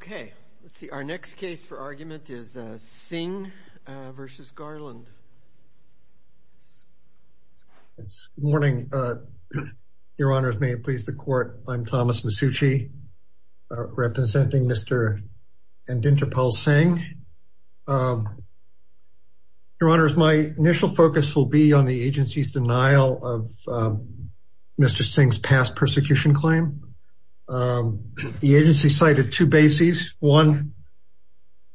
Okay, let's see. Our next case for argument is Singh v. Garland. It's morning. Your Honor, if may please the court. I'm Thomas Masucci, representing Mr. Indinderpal Singh. Your Honor, my initial focus will be on the agency's denial of Mr. Singh's past One,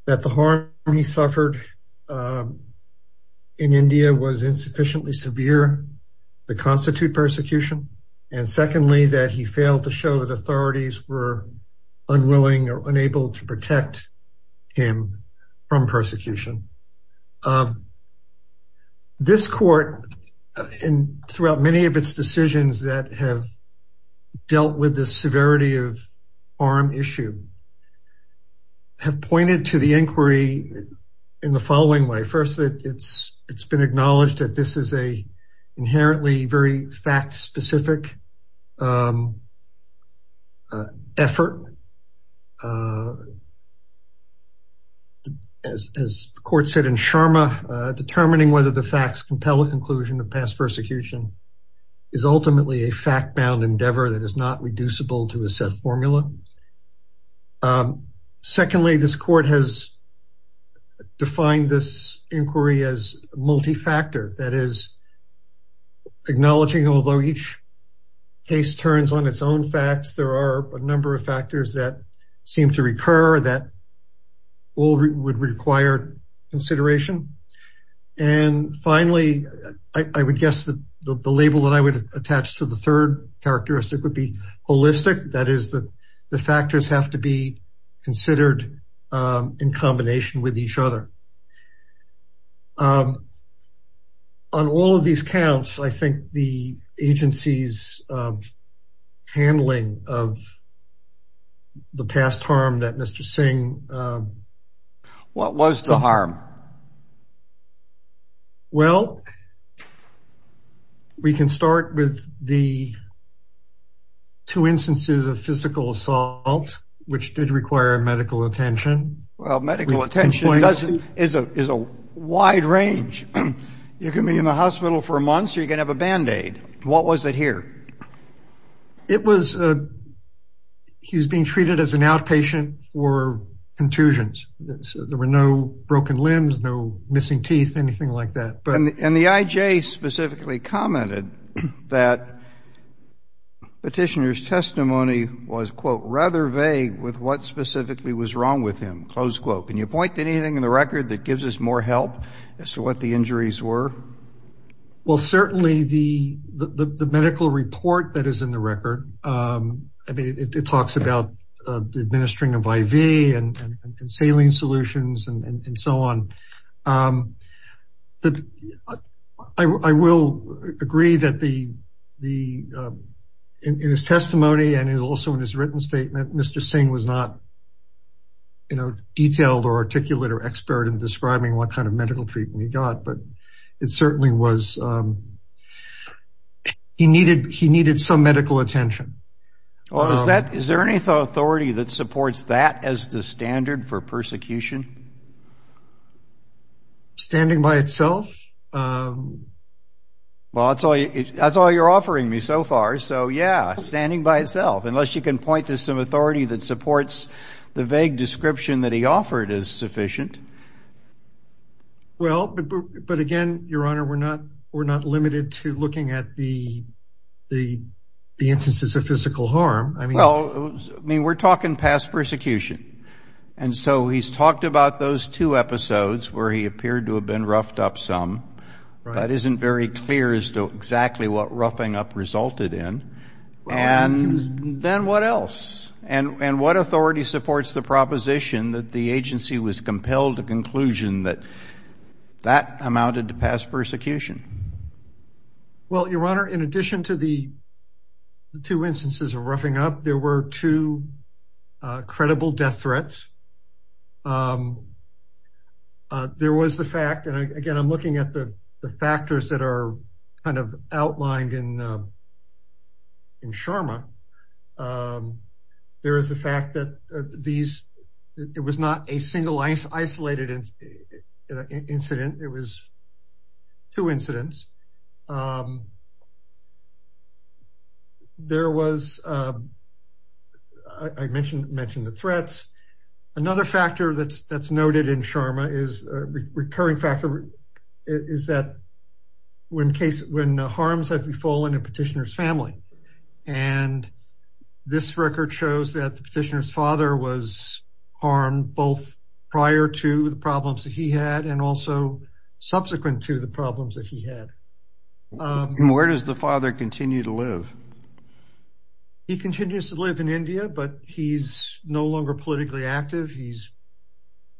that the harm he suffered in India was insufficiently severe to constitute persecution. And secondly, that he failed to show that authorities were unwilling or unable to protect him from persecution. This court, and throughout many of its decisions that have dealt with the have pointed to the inquiry in the following way. First, it's been acknowledged that this is a inherently very fact specific effort. As the court said in Sharma, determining whether the facts compel a conclusion of past persecution is ultimately a fact bound endeavor that is not reducible to a set formula. Secondly, this court has defined this inquiry as multi-factor, that is acknowledging although each case turns on its own facts, there are a number of factors that seem to recur that would require consideration. And finally, I would guess that the label that I would attach to the third characteristic would be holistic, that is that the factors have to be considered in combination with each other. On all of these counts, I think the agency's handling of the past harm that Mr. Singh... What was the harm? Well, we can start with the two instances of physical assault, which did require medical attention. Well, medical attention is a wide range. You can be in the hospital for a month, so you can have a bandaid. What was it here? It was... He was being treated as an outpatient for contusions. There were no broken limbs. No missing teeth, anything like that. And the IJ specifically commented that the petitioner's testimony was, quote, rather vague with what specifically was wrong with him, close quote. Can you point to anything in the record that gives us more help as to what the injuries were? Well, certainly the medical report that is in the record, it talks about the administering of IV and saline solutions and so on. I will agree that in his testimony and also in his written statement, Mr. Singh was not detailed or articulate or expert in describing what kind of medical treatment he got. But it certainly was... He needed some medical attention. Well, is there any authority that supports that as the standard for persecution? Standing by itself? Well, that's all you're offering me so far. So, yeah, standing by itself, unless you can point to some authority that supports the vague description that he offered is sufficient. Well, but again, Your Honor, we're not limited to looking at the instances of physical harm. I mean... Well, I mean, we're talking past persecution. And so he's talked about those two episodes where he appeared to have been roughed up some, but isn't very clear as to exactly what roughing up resulted in. And then what else? And what authority supports the proposition that the agency was compelled to conclusion that that amounted to past persecution? Well, Your Honor, in addition to the two instances of roughing up, there were two credible death threats. There was the fact, and again, I'm looking at the factors that are kind of outlined in Sharma, there is the fact that it was not a single isolated incident, it was two incidents. There was, I mentioned the threats. Another factor that's noted in Sharma, a recurring factor, is that when harms have fallen in the petitioner's family. And this record shows that the petitioner's father was harmed both prior to the problems that he had and also subsequent to the problems that he had. Where does the father continue to live? He continues to live in India, but he's no longer politically active. He's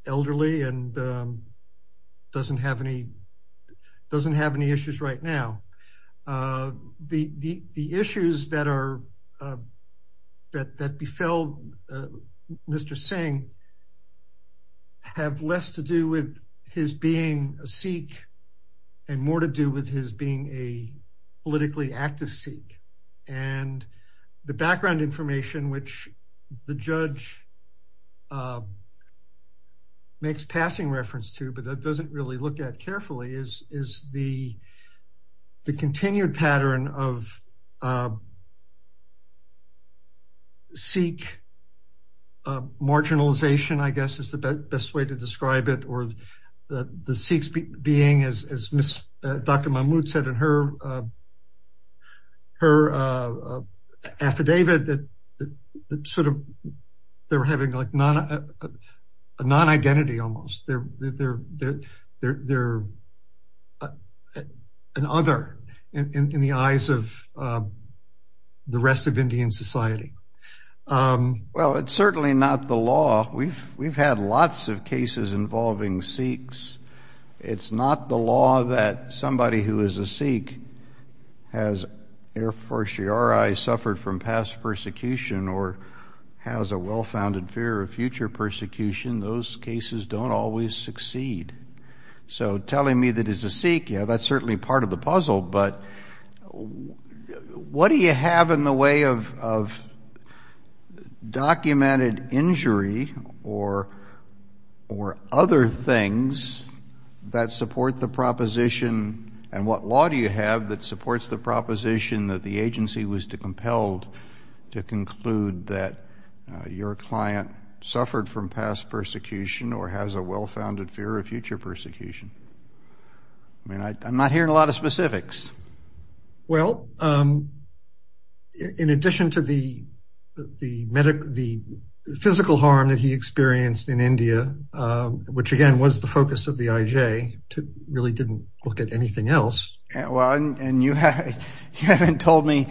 elderly and doesn't have any issues right now. The issues that befell Mr. Singh have less to do with his being a Sikh and more to do with his being a politically active Sikh. And the background information, which the judge makes passing reference to, but that doesn't really look at carefully, is the continued pattern of Sikh marginalization, I guess is the best way to describe it, or the Sikhs being, as Dr. Mahmood said in her affidavit, that sort of they were having like a non-identity almost. They're an other in the eyes of the rest of Indian society. Well, it's certainly not the law. We've had lots of cases involving Sikhs. It's not the law that somebody who is a Sikh has air fortiori suffered from past persecution or has a well-founded fear of future persecution. Those cases don't always succeed. So telling me that as a Sikh, yeah, that's certainly part of the puzzle. But what do you have in the way of documented injury or other things that support the proposition? And what law do you have that supports the proposition that the agency was compelled to pursue persecution or has a well-founded fear of future persecution? I mean, I'm not hearing a lot of specifics. Well, in addition to the physical harm that he experienced in India, which again was the focus of the IJ, really didn't look at anything else. Well, and you haven't told me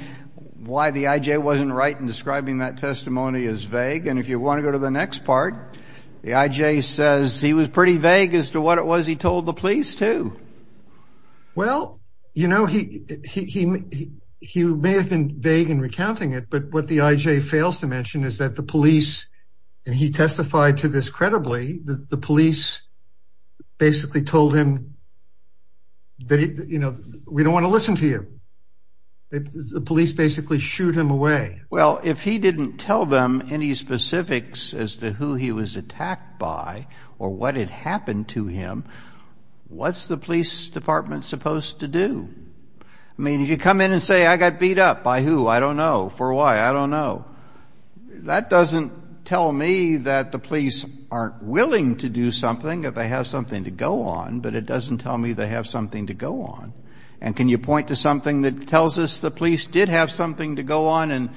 why the IJ wasn't right in describing that testimony as vague. And if you want to go to the next part. The IJ says he was pretty vague as to what it was he told the police, too. Well, you know, he may have been vague in recounting it, but what the IJ fails to mention is that the police, and he testified to this credibly, that the police basically told him that, you know, we don't want to listen to you. The police basically shooed him away. Well, if he didn't tell them any specifics as to who he was attacked by or what had happened to him, what's the police department supposed to do? I mean, if you come in and say, I got beat up by who? I don't know. For why? I don't know. That doesn't tell me that the police aren't willing to do something, that they have something to go on. But it doesn't tell me they have something to go on. And can you point to something that tells us the police did have something to go on and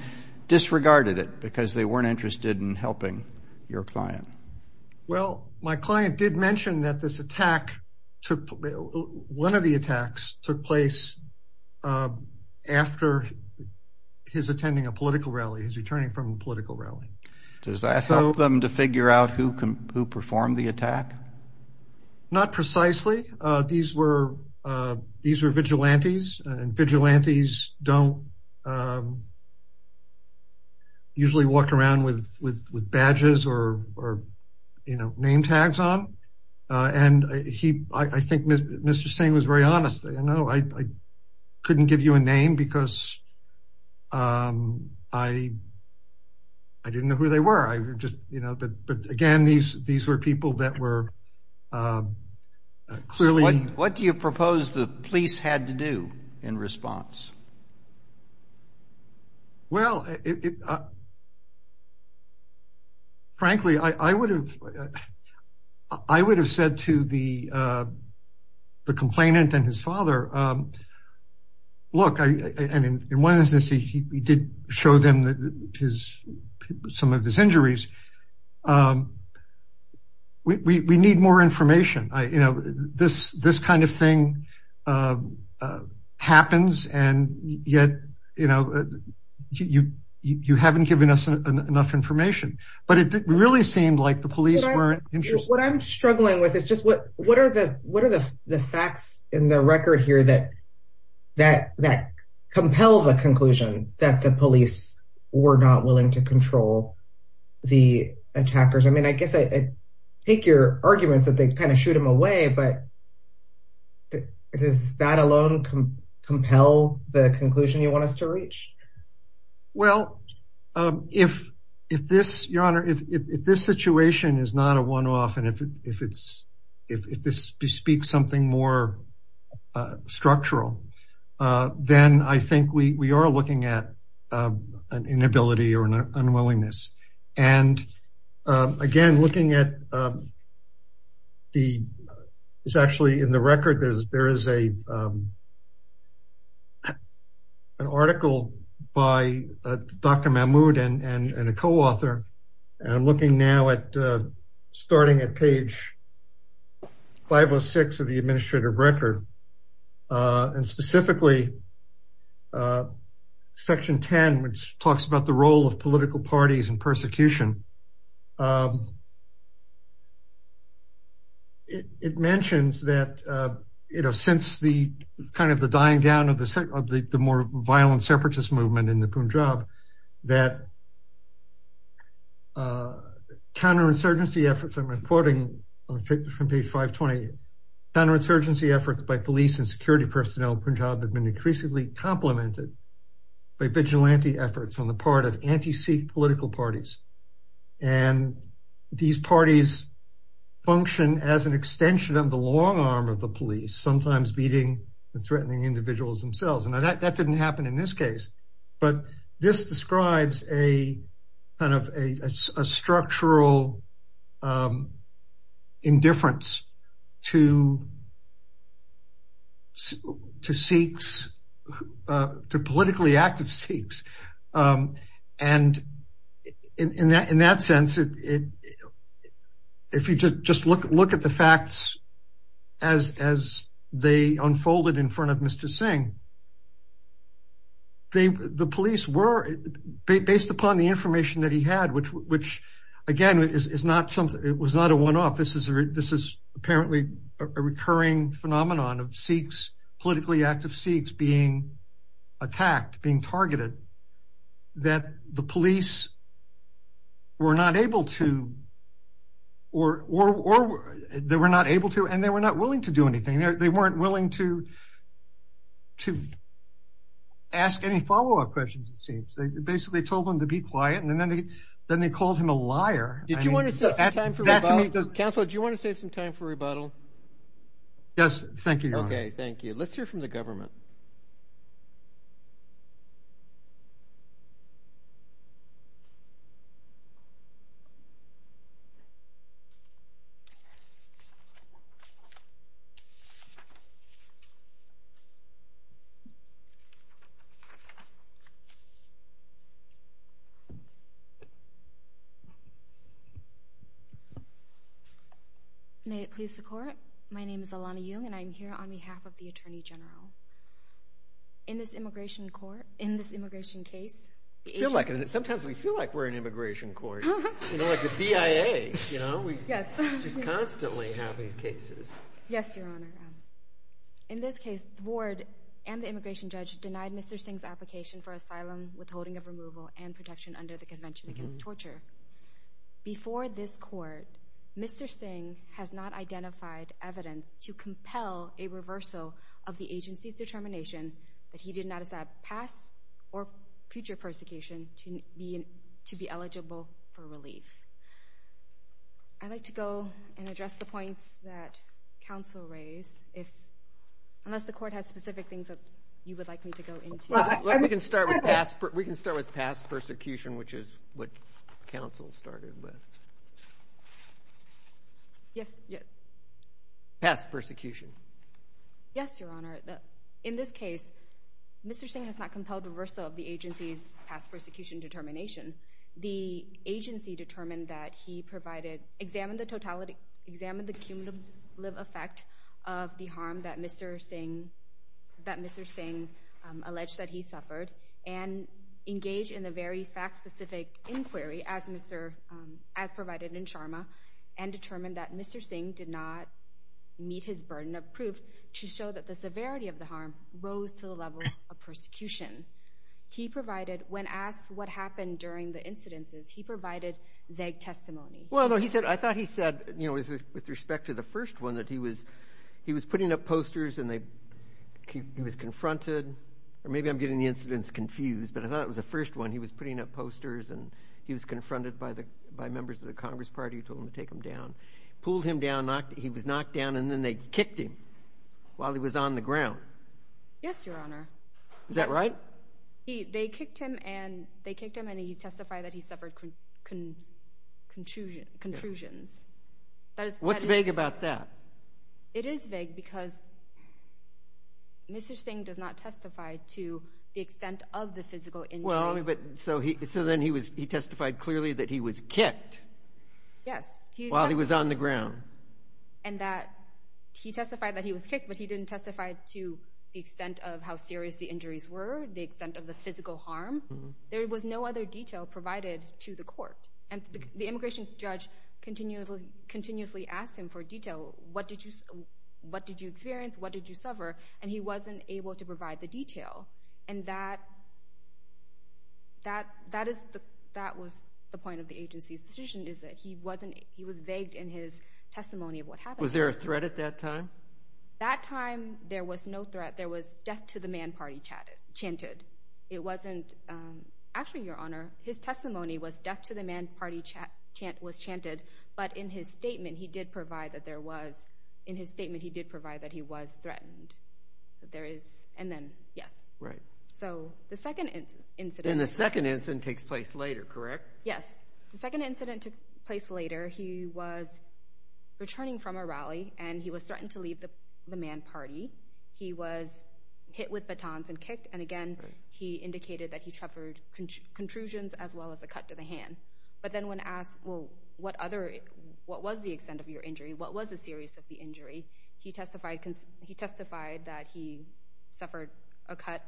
disregarded it because they weren't interested in helping your client? Well, my client did mention that this attack, one of the attacks took place after his attending a political rally, his returning from a political rally. Does that help them to figure out who performed the attack? Not precisely. These were vigilantes and vigilantes don't usually walk around with badges or name tags on. And I think Mr. Singh was very honest. You know, I couldn't give you a name because I didn't know who they were. You know, but again, these were people that were clearly... What do you propose the police had to do in response? Well, frankly, I would have said to the complainant and his father, look, and in one instance, he did show them some of his injuries. We need more information, you know, this this kind of thing happens. And yet, you know, you haven't given us enough information. But it really seemed like the police weren't interested. What I'm struggling with is just what are the facts in the record here that compel the conclusion that the police were not willing to control the attackers? I mean, I guess I take your arguments that they kind of shoot them away. But does that alone compel the conclusion you want us to reach? Well, if this, Your Honor, if this situation is not a one off and if this bespeaks something more structural, then I think we are looking at an inability or an unwillingness. And again, looking at the it's actually in the record, there is an article by Dr. Mahmood and a co-author. And I'm looking now at starting at page 506 of the administrative record and specifically Section 10, which talks about the role of political parties and persecution. It mentions that, you know, since the kind of the dying down of the more violent separatist movement in the Punjab, that. Counterinsurgency efforts, I'm reporting from page 520, counterinsurgency efforts by police and security personnel in Punjab have been increasingly complemented by vigilante efforts on the part of anti Sikh political parties, and these parties function as an extension of the long arm of the police, sometimes beating and threatening individuals themselves. And that didn't happen in this case. But this describes a kind of a structural indifference to Sikhs, to politically active Sikhs. And in that sense, if you just look at the facts as they unfolded in front of Mr. Singh, the police were based upon the information that he had, which again, is not something it was not a one off. This is this is apparently a recurring phenomenon of Sikhs, politically active Sikhs being attacked, being targeted that the police were not able to or they were not able to and they were not willing to do anything. They weren't willing to to ask any follow up questions, it seems they basically told them to be quiet. And then they then they called him a liar. Did you want to save some time for rebuttal? Counselor, do you want to save some time for rebuttal? Yes, thank you. OK, thank you. Let's hear from the government. May it please the court, my name is Alana Jung and I'm here on behalf of the Attorney General. In this immigration court, in this immigration case. Sometimes we feel like we're in immigration court, you know, like the BIA, you know, we just constantly have these cases. Yes, Your Honor. In this case, the board and the immigration judge denied Mr. Singh's application for asylum, withholding of removal and protection under the Convention Against Torture. Before this court, Mr. Singh has not identified evidence to compel a reversal of the agency's determination that he did not pass or future persecution to be to be eligible for relief. I'd like to go and address the points that counsel raised, if unless the court has specific things that you would like me to go into. Well, we can start with past. We can start with past persecution, which is what counsel started with. Yes. Past persecution. Yes, Your Honor. In this case, Mr. Singh has not compelled a reversal of the agency's past persecution determination. The agency determined that he provided examined the cumulative effect of the harm that Mr. Singh that Mr. Singh alleged that he suffered and engaged in the very fact specific inquiry as Mr. as provided in Sharma and determined that Mr. Singh did not meet his burden of proof to show that the severity of the harm rose to the level of the incidences. He provided vague testimony. Well, he said I thought he said, you know, with respect to the first one that he was he was putting up posters and they he was confronted or maybe I'm getting the incidents confused. But I thought it was the first one. He was putting up posters and he was confronted by the by members of the Congress Party who told him to take him down, pulled him down, knocked. He was knocked down and then they kicked him while he was on the ground. Yes, Your Honor. Is that right? He they kicked him and they kicked him and he testified that he suffered contusion, contusions. That is what's vague about that. It is vague because. Mr. Singh does not testify to the extent of the physical. Well, but so he so then he was he testified clearly that he was kicked. Yes, he was on the ground and that he testified that he was kicked, but he didn't testify to the extent of how serious the injuries were. The extent of the physical harm. There was no other detail provided to the court. And the immigration judge continuously, continuously asked him for detail. What did you what did you experience? What did you suffer? And he wasn't able to provide the detail. And that. That that is the that was the point of the agency's decision is that he wasn't he was vague in his testimony of what happened. Was there a threat at that time? That time there was no threat. There was death to the man party chatted, chanted. It wasn't actually your honor. His testimony was death to the man party chant was chanted. But in his statement, he did provide that there was in his statement. He did provide that he was threatened that there is. And then, yes. Right. So the second incident in the second incident takes place later, correct? Yes. The second incident took place later. He was returning from a rally and he was threatened to leave the man party. He was hit with batons and kicked. And again, he indicated that he suffered contusions as well as a cut to the hand. But then when asked, well, what other what was the extent of your injury? What was the serious of the injury? He testified he testified that he suffered a cut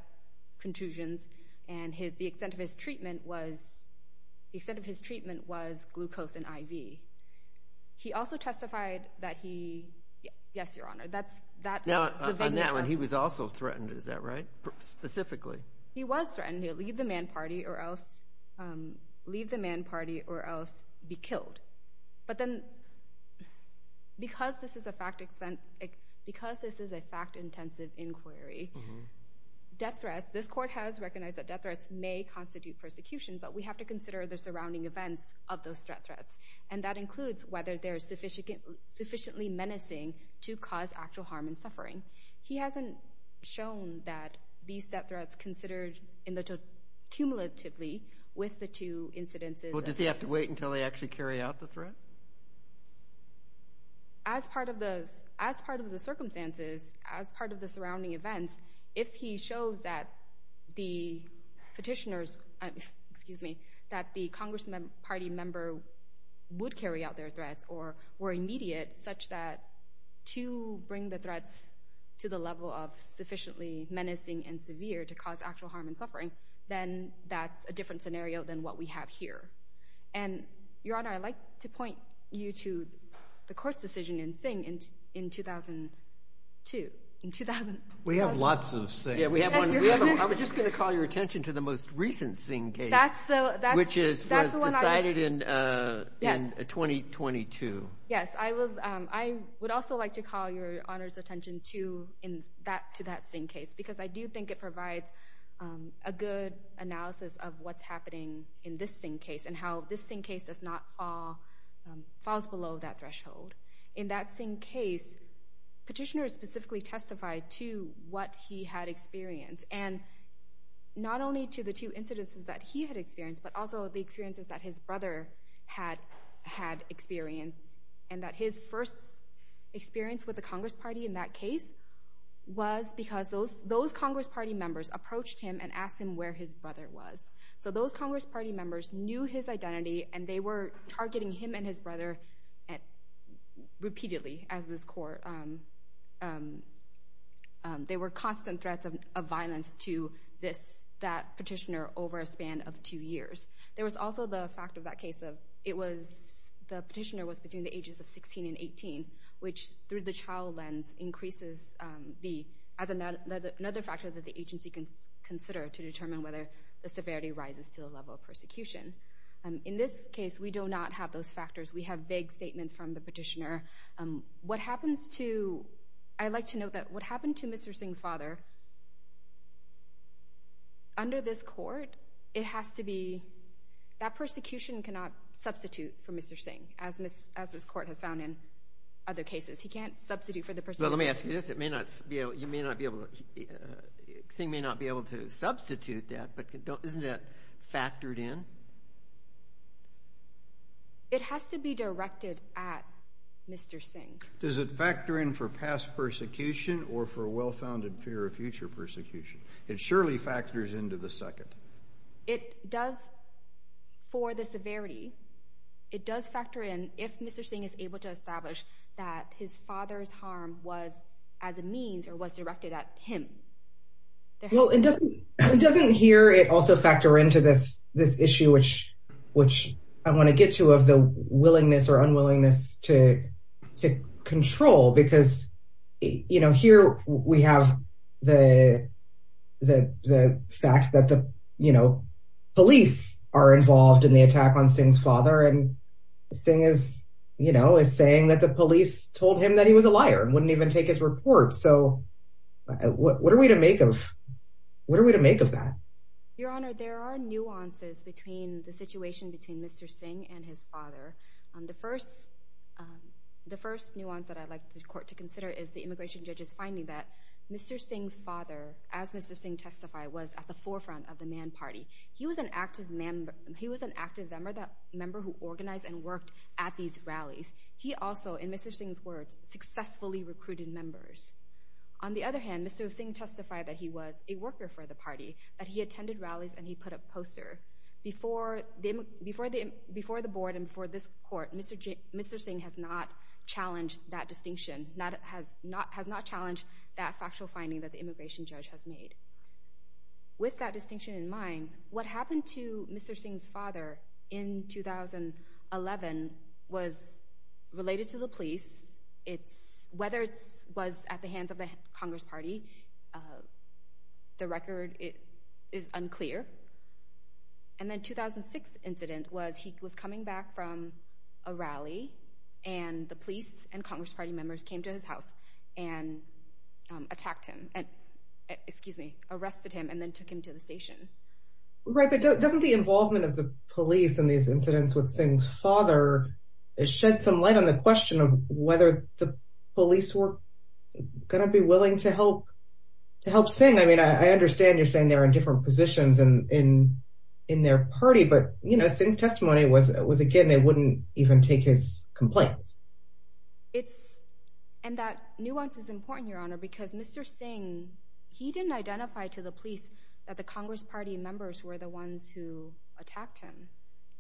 contusions. And the extent of his treatment was the extent of his treatment was glucose and IV. He also testified that he. Yes, your honor, that's that. Now on that one, he was also threatened. Is that right? Specifically, he was threatened to leave the man party or else leave the man party or else be killed. But then. Because this is a fact, because this is a fact, intensive inquiry, death threats, this court has recognized that death threats may constitute persecution, but we have to consider the surrounding events of those threats. And that includes whether they're sufficient, sufficiently menacing to cause actual harm and suffering. He hasn't shown that these death threats considered in the cumulatively with the two incidences. Well, does he have to wait until they actually carry out the threat? As part of those, as part of the circumstances, as part of the surrounding events, if he shows that the petitioners, excuse me, that the Congressmen party member would carry out their threats or were immediate such that to bring the threats to the level of sufficiently menacing and severe to cause actual harm and suffering, then that's a different scenario than what we have here. And your honor, I'd like to point you to the court's decision in Singh in in 2002, in 2000. We have lots of things. Yeah, we have one. I was just going to call your attention to the most recent Singh case, which is decided in 2022. Yes, I will. I would also like to call your honor's attention to in that to that same case, because I do think it provides a good analysis of what's happening in this same case and how this same case does not fall falls below that threshold. In that same case, petitioners specifically testified to what he had experienced and not only to the two incidences that he had experienced, but also the experiences that his brother had had experience and that his first experience with the Congress party in that case was because those those Congress party members approached him and asked him where his brother was. So those Congress party members knew his identity and they were targeting him and his brother at repeatedly as this court. And they were constant threats of violence to this, that petitioner over a span of two years. There was also the fact of that case of it was the petitioner was between the ages of 16 and 18, which through the child lens increases the as another factor that the agency can consider to determine whether the severity rises to the level of persecution. In this case, we do not have those factors. We have vague statements from the petitioner. What happens to I'd like to know that what happened to Mr. Singh's father? Under this court, it has to be that persecution cannot substitute for Mr. Singh, as this as this court has found in other cases, he can't substitute for the person. Well, let me ask you this. It may not be. You may not be able to sing, may not be able to substitute that. But isn't that factored in? It has to be directed at Mr. Singh, does it factor in for past persecution or for well-founded fear of future persecution? It surely factors into the second. It does for the severity. It does factor in if Mr. Singh is able to establish that his father's harm was as a means or was directed at him. Well, it doesn't it doesn't hear it also factor into this this issue, which which I want to get to of the willingness or unwillingness to to control, because, you know, here we have the the the fact that the, you know, police are involved in the attack on Singh's father. And this thing is, you know, is saying that the police told him that he was a liar and wouldn't even take his report. So what are we to make of what are we to make of that? Your Honor, there are nuances between the situation between Mr. Singh and his father. The first the first nuance that I'd like the court to consider is the immigration judges finding that Mr. Singh's father, as Mr. Singh testified, was at the forefront of the man party. He was an active man. He was an active member, the member who organized and worked at these rallies. He also, in Mr. Singh's words, successfully recruited members. On the other hand, Mr. Singh testified that he was a worker for the party, that he attended rallies and he put up poster before them, before the before the board and for this court. Mr. Mr. Singh has not challenged that distinction, not has not has not challenged that factual finding that the immigration judge has made. With that distinction in mind, what happened to Mr. Singh's father in 2011 was related to the police. It's whether it's was at the hands of the Congress Party. The record is unclear. And then 2006 incident was he was coming back from a rally and the police and Congress Party members came to his house and attacked him and excuse me, arrested him and then took him to the station. Right. But doesn't the involvement of the police in these incidents with Singh's father shed some light on the question of whether the police were going to be willing to help to help Singh? I mean, I understand you're saying they're in different positions and in in their party. But, you know, Singh's testimony was it was again, they wouldn't even take his complaints. It's and that nuance is important, Your Honor, because Mr. Singh, he didn't identify to the police that the Congress Party members were the ones who attacked him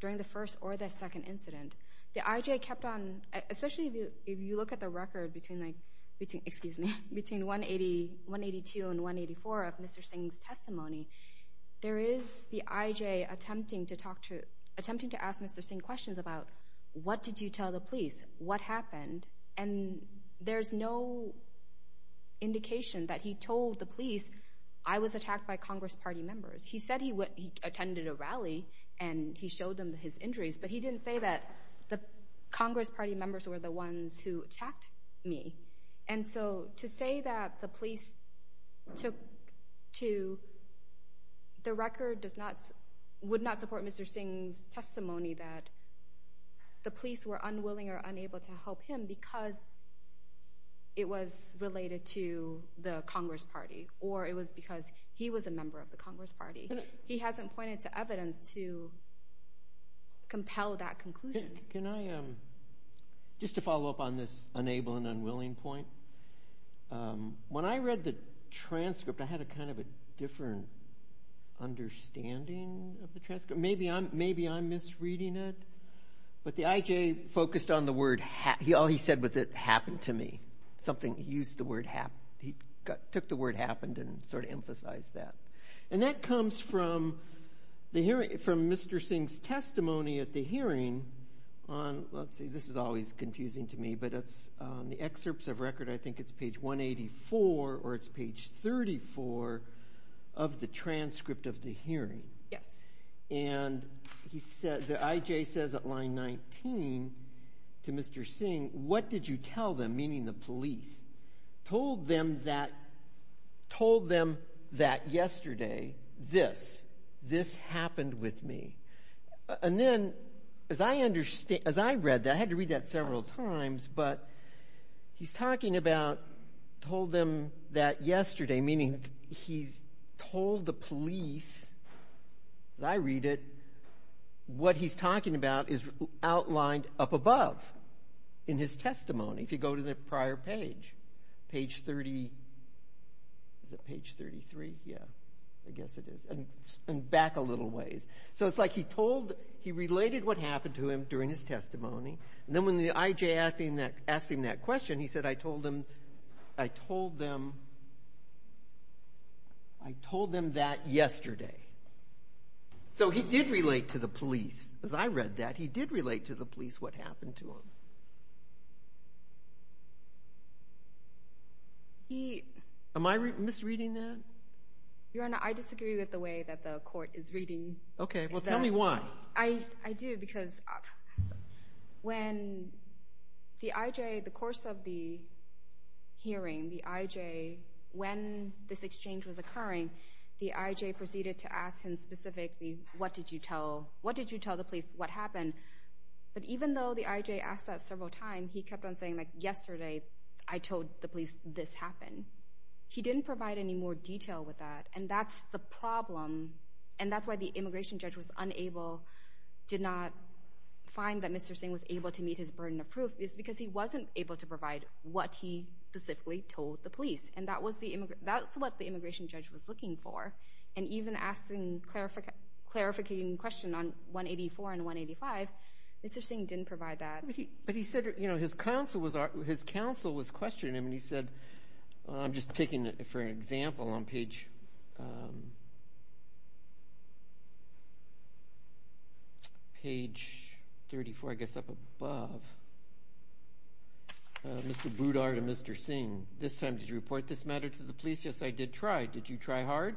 during the first or the second incident. The IJ kept on, especially if you look at the record between like between excuse me, between 180, 182 and 184 of Mr. Singh's testimony. There is the IJ attempting to talk to attempting to ask Mr. Singh questions about what did you tell the police? What happened? And there's no indication that he told the police I was attacked by Congress Party members. He said he attended a rally and he showed them his injuries, but he didn't say that the Congress Party members were the ones who attacked me. And so to say that the police took to. The record does not would not support Mr. Singh's testimony that. The police were unwilling or unable to help him because. It was related to the Congress Party, or it was because he was a member of the Congress Party. He hasn't pointed to evidence to. Compel that conclusion. Can I just to follow up on this unable and unwilling point? When I read the transcript, I had a kind of a different understanding of the transcript. Maybe I'm maybe I'm misreading it, but the IJ focused on the word. He all he said was it happened to me. Something he used the word hap. He took the word happened and sort of emphasized that. And that comes from the hearing from Mr. Singh's testimony at the hearing on. Let's see. This is always confusing to me, but it's the excerpts of record. I think it's page 184 or it's page 34 of the transcript of the hearing. Yes. And he said the IJ says at line 19 to Mr. Singh, what did you tell them, meaning the police told them that told them that yesterday this this happened with me. And then as I understand, as I read that, I had to read that several times. But he's talking about told them that yesterday, meaning he's told the police. As I read it, what he's talking about is outlined up above in his testimony, if you go to the prior page, page 30. Is it page 33? Yeah, I guess it is. And back a little ways. So it's like he told he related what happened to him during his testimony. And then when the IJ acting that asked him that question, he said, I told him I told them. I told them that yesterday. So he did relate to the police, as I read that, he did relate to the police what happened to him. He am I misreading that? Your Honor, I disagree with the way that the court is reading. OK, well, tell me why I do, because when the IJ, the course of the hearing, the IJ, when this exchange was occurring, the IJ proceeded to ask him specifically, what did you tell? What did you tell the police? What happened? But even though the IJ asked that several times, he kept on saying, like yesterday, I told the police this happened. He didn't provide any more detail with that. And that's the problem. And that's why the immigration judge was unable, did not find that Mr. Singh was able to meet his burden of proof, is because he wasn't able to provide what he specifically told the police. And that was the that's what the immigration judge was looking for. And even asking, clarifying, clarifying question on 184 and 185, Mr. Singh didn't provide that. But he said, you know, his counsel was his counsel was questioning him. And he said, I'm just taking it for an example on page. Page thirty four, I guess, up above. Mr. Boudard and Mr. Singh, this time, did you report this matter to the police? Yes, I did try. Did you try hard?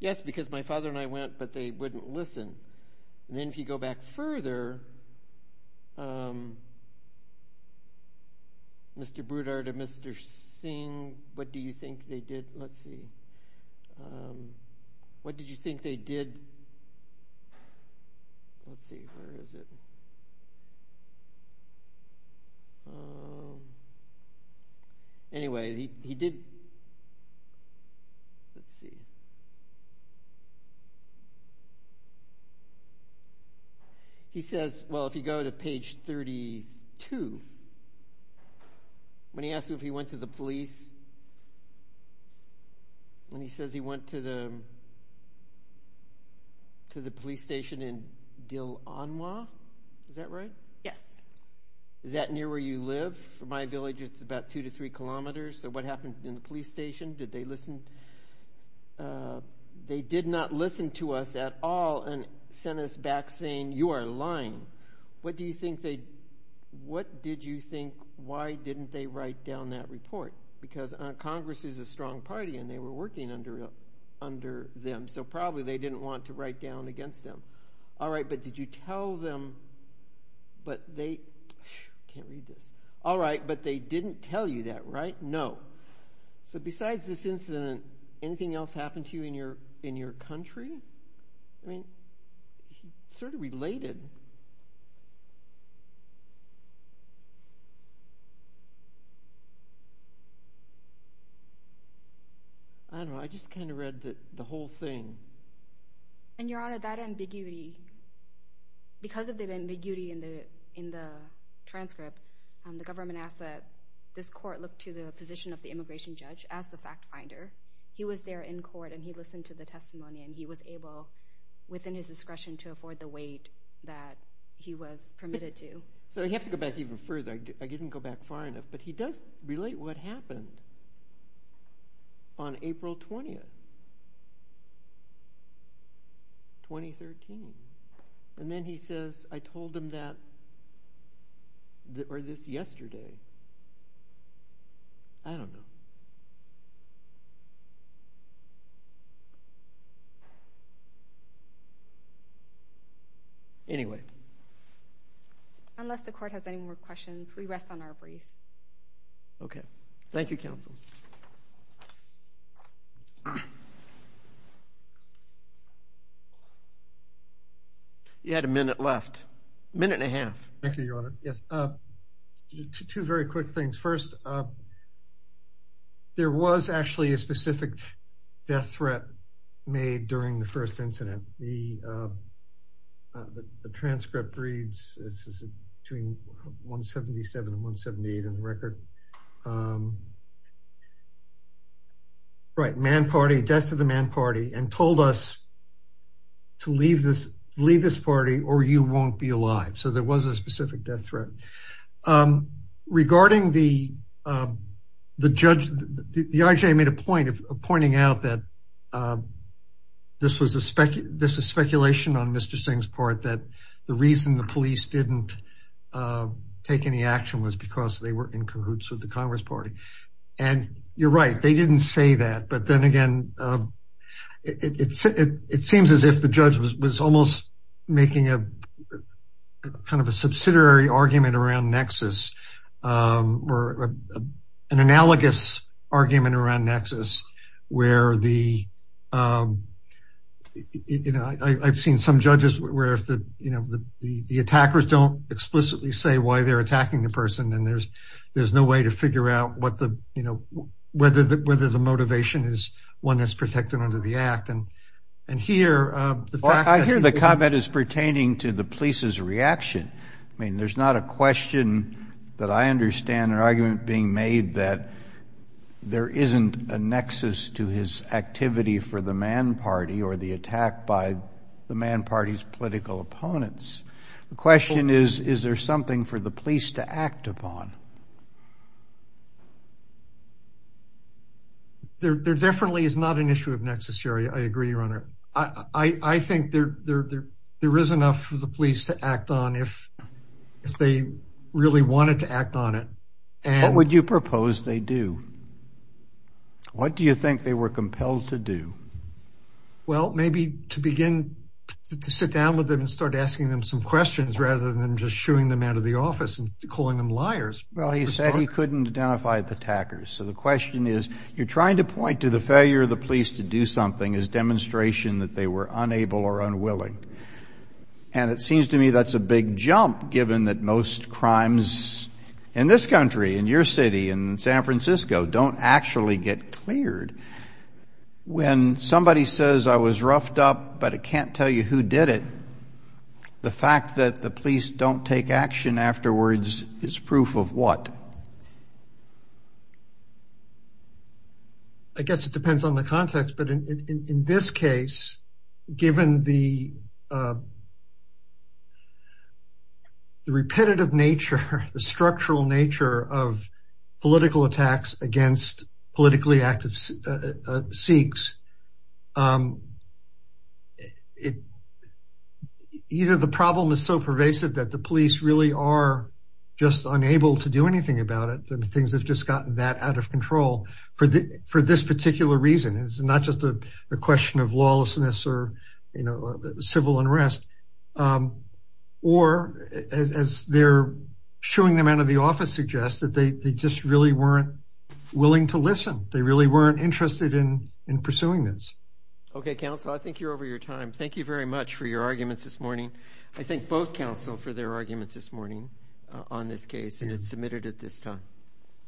Yes, because my father and I went, but they wouldn't listen. And then if you go back further. Mr. Boudard and Mr. Singh, what do you think they did? Let's see. What did you think they did? Let's see, where is it? Anyway, he did. Let's see. He says, well, if you go to page thirty two. When he asked him if he went to the police. When he says he went to the. To the police station in Dillon, was that right? Yes. Is that near where you live? For my village, it's about two to three kilometers. So what happened in the police station? Did they listen? They did not listen to us at all. And sent us back saying you are lying. What do you think they what did you think? Why didn't they write down that report? Because Congress is a strong party and they were working under under them. So probably they didn't want to write down against them. All right. But did you tell them? But they can't read this. All right. But they didn't tell you that, right? No. So besides this incident, anything else happened to you in your in your country? I mean, sort of related. I don't know, I just kind of read the whole thing. And your honor, that ambiguity. Because of the ambiguity in the in the transcript, the government asset, this court looked to the position of the immigration judge as the fact finder. He was there in court and he listened to the testimony and he was able within his discretion to afford the weight that he was permitted to. So you have to go back even further. I didn't go back far enough, but he does relate what happened. On April 20th. 2013. And then he says, I told them that. Or this yesterday. I don't know. Anyway. Unless the court has any more questions, we rest on our brief. Okay. Thank you, counsel. You had a minute left. Minute and a half. Thank you, your honor. Yes. Two very quick things. First, there was actually a specific death threat made during the first incident. The the transcript reads this is between 177 and 178 in the record. Right. Man party death to the man party and told us. To leave this, leave this party or you won't be alive. So there was a specific death threat regarding the the judge. The IJ made a point of pointing out that this was a this is speculation on Mr. Singh's part, that the reason the police didn't take any action was because they were in cahoots with the Congress Party. And you're right. They didn't say that. But then again, it's it seems as if the judge was almost making a kind of a subsidiary argument around nexus or an analogous argument around nexus where the you know, I've seen some judges where the you know, the the attackers don't explicitly say why they're attacking the person. And there's there's no way to figure out what the you know, whether whether the motivation is one that's protected under the act. And and here I hear the comment is pertaining to the police's reaction. I mean, there's not a question that I understand an argument being made that there isn't a nexus to his activity for the Mann Party or the attack by the Mann Party's political opponents. The question is, is there something for the police to act upon? There definitely is not an issue of necessary. I agree, your honor. I think there there there is enough for the police to act on if if they really wanted to act on it. And what would you propose they do? What do you think they were compelled to do? Well, maybe to begin to sit down with them and start asking them some questions rather than just shooing them out of the office and calling them liars. Well, he said he couldn't identify the attackers. So the question is, you're trying to point to the failure of the police to do something as demonstration that they were unable or unwilling. And it seems to me that's a big jump, given that most crimes in this country, in your city, in San Francisco, don't actually get cleared. When somebody says, I was roughed up, but I can't tell you who did it. The fact that the police don't take action afterwards is proof of what? I guess it depends on the context. But in this case, given the. The repetitive nature, the structural nature of political attacks against politically active Sikhs. Either the problem is so pervasive that the police really are just unable to do anything about it, that the things have just gotten that out of control for this particular reason. It's not just a question of lawlessness or, you know, civil unrest. Or as they're shooing them out of the office, suggest that they just really weren't willing to listen. They really weren't interested in in pursuing this. OK, counsel, I think you're over your time. Thank you very much for your arguments this morning. I think both counsel for their arguments this morning on this case, and it's submitted at this time.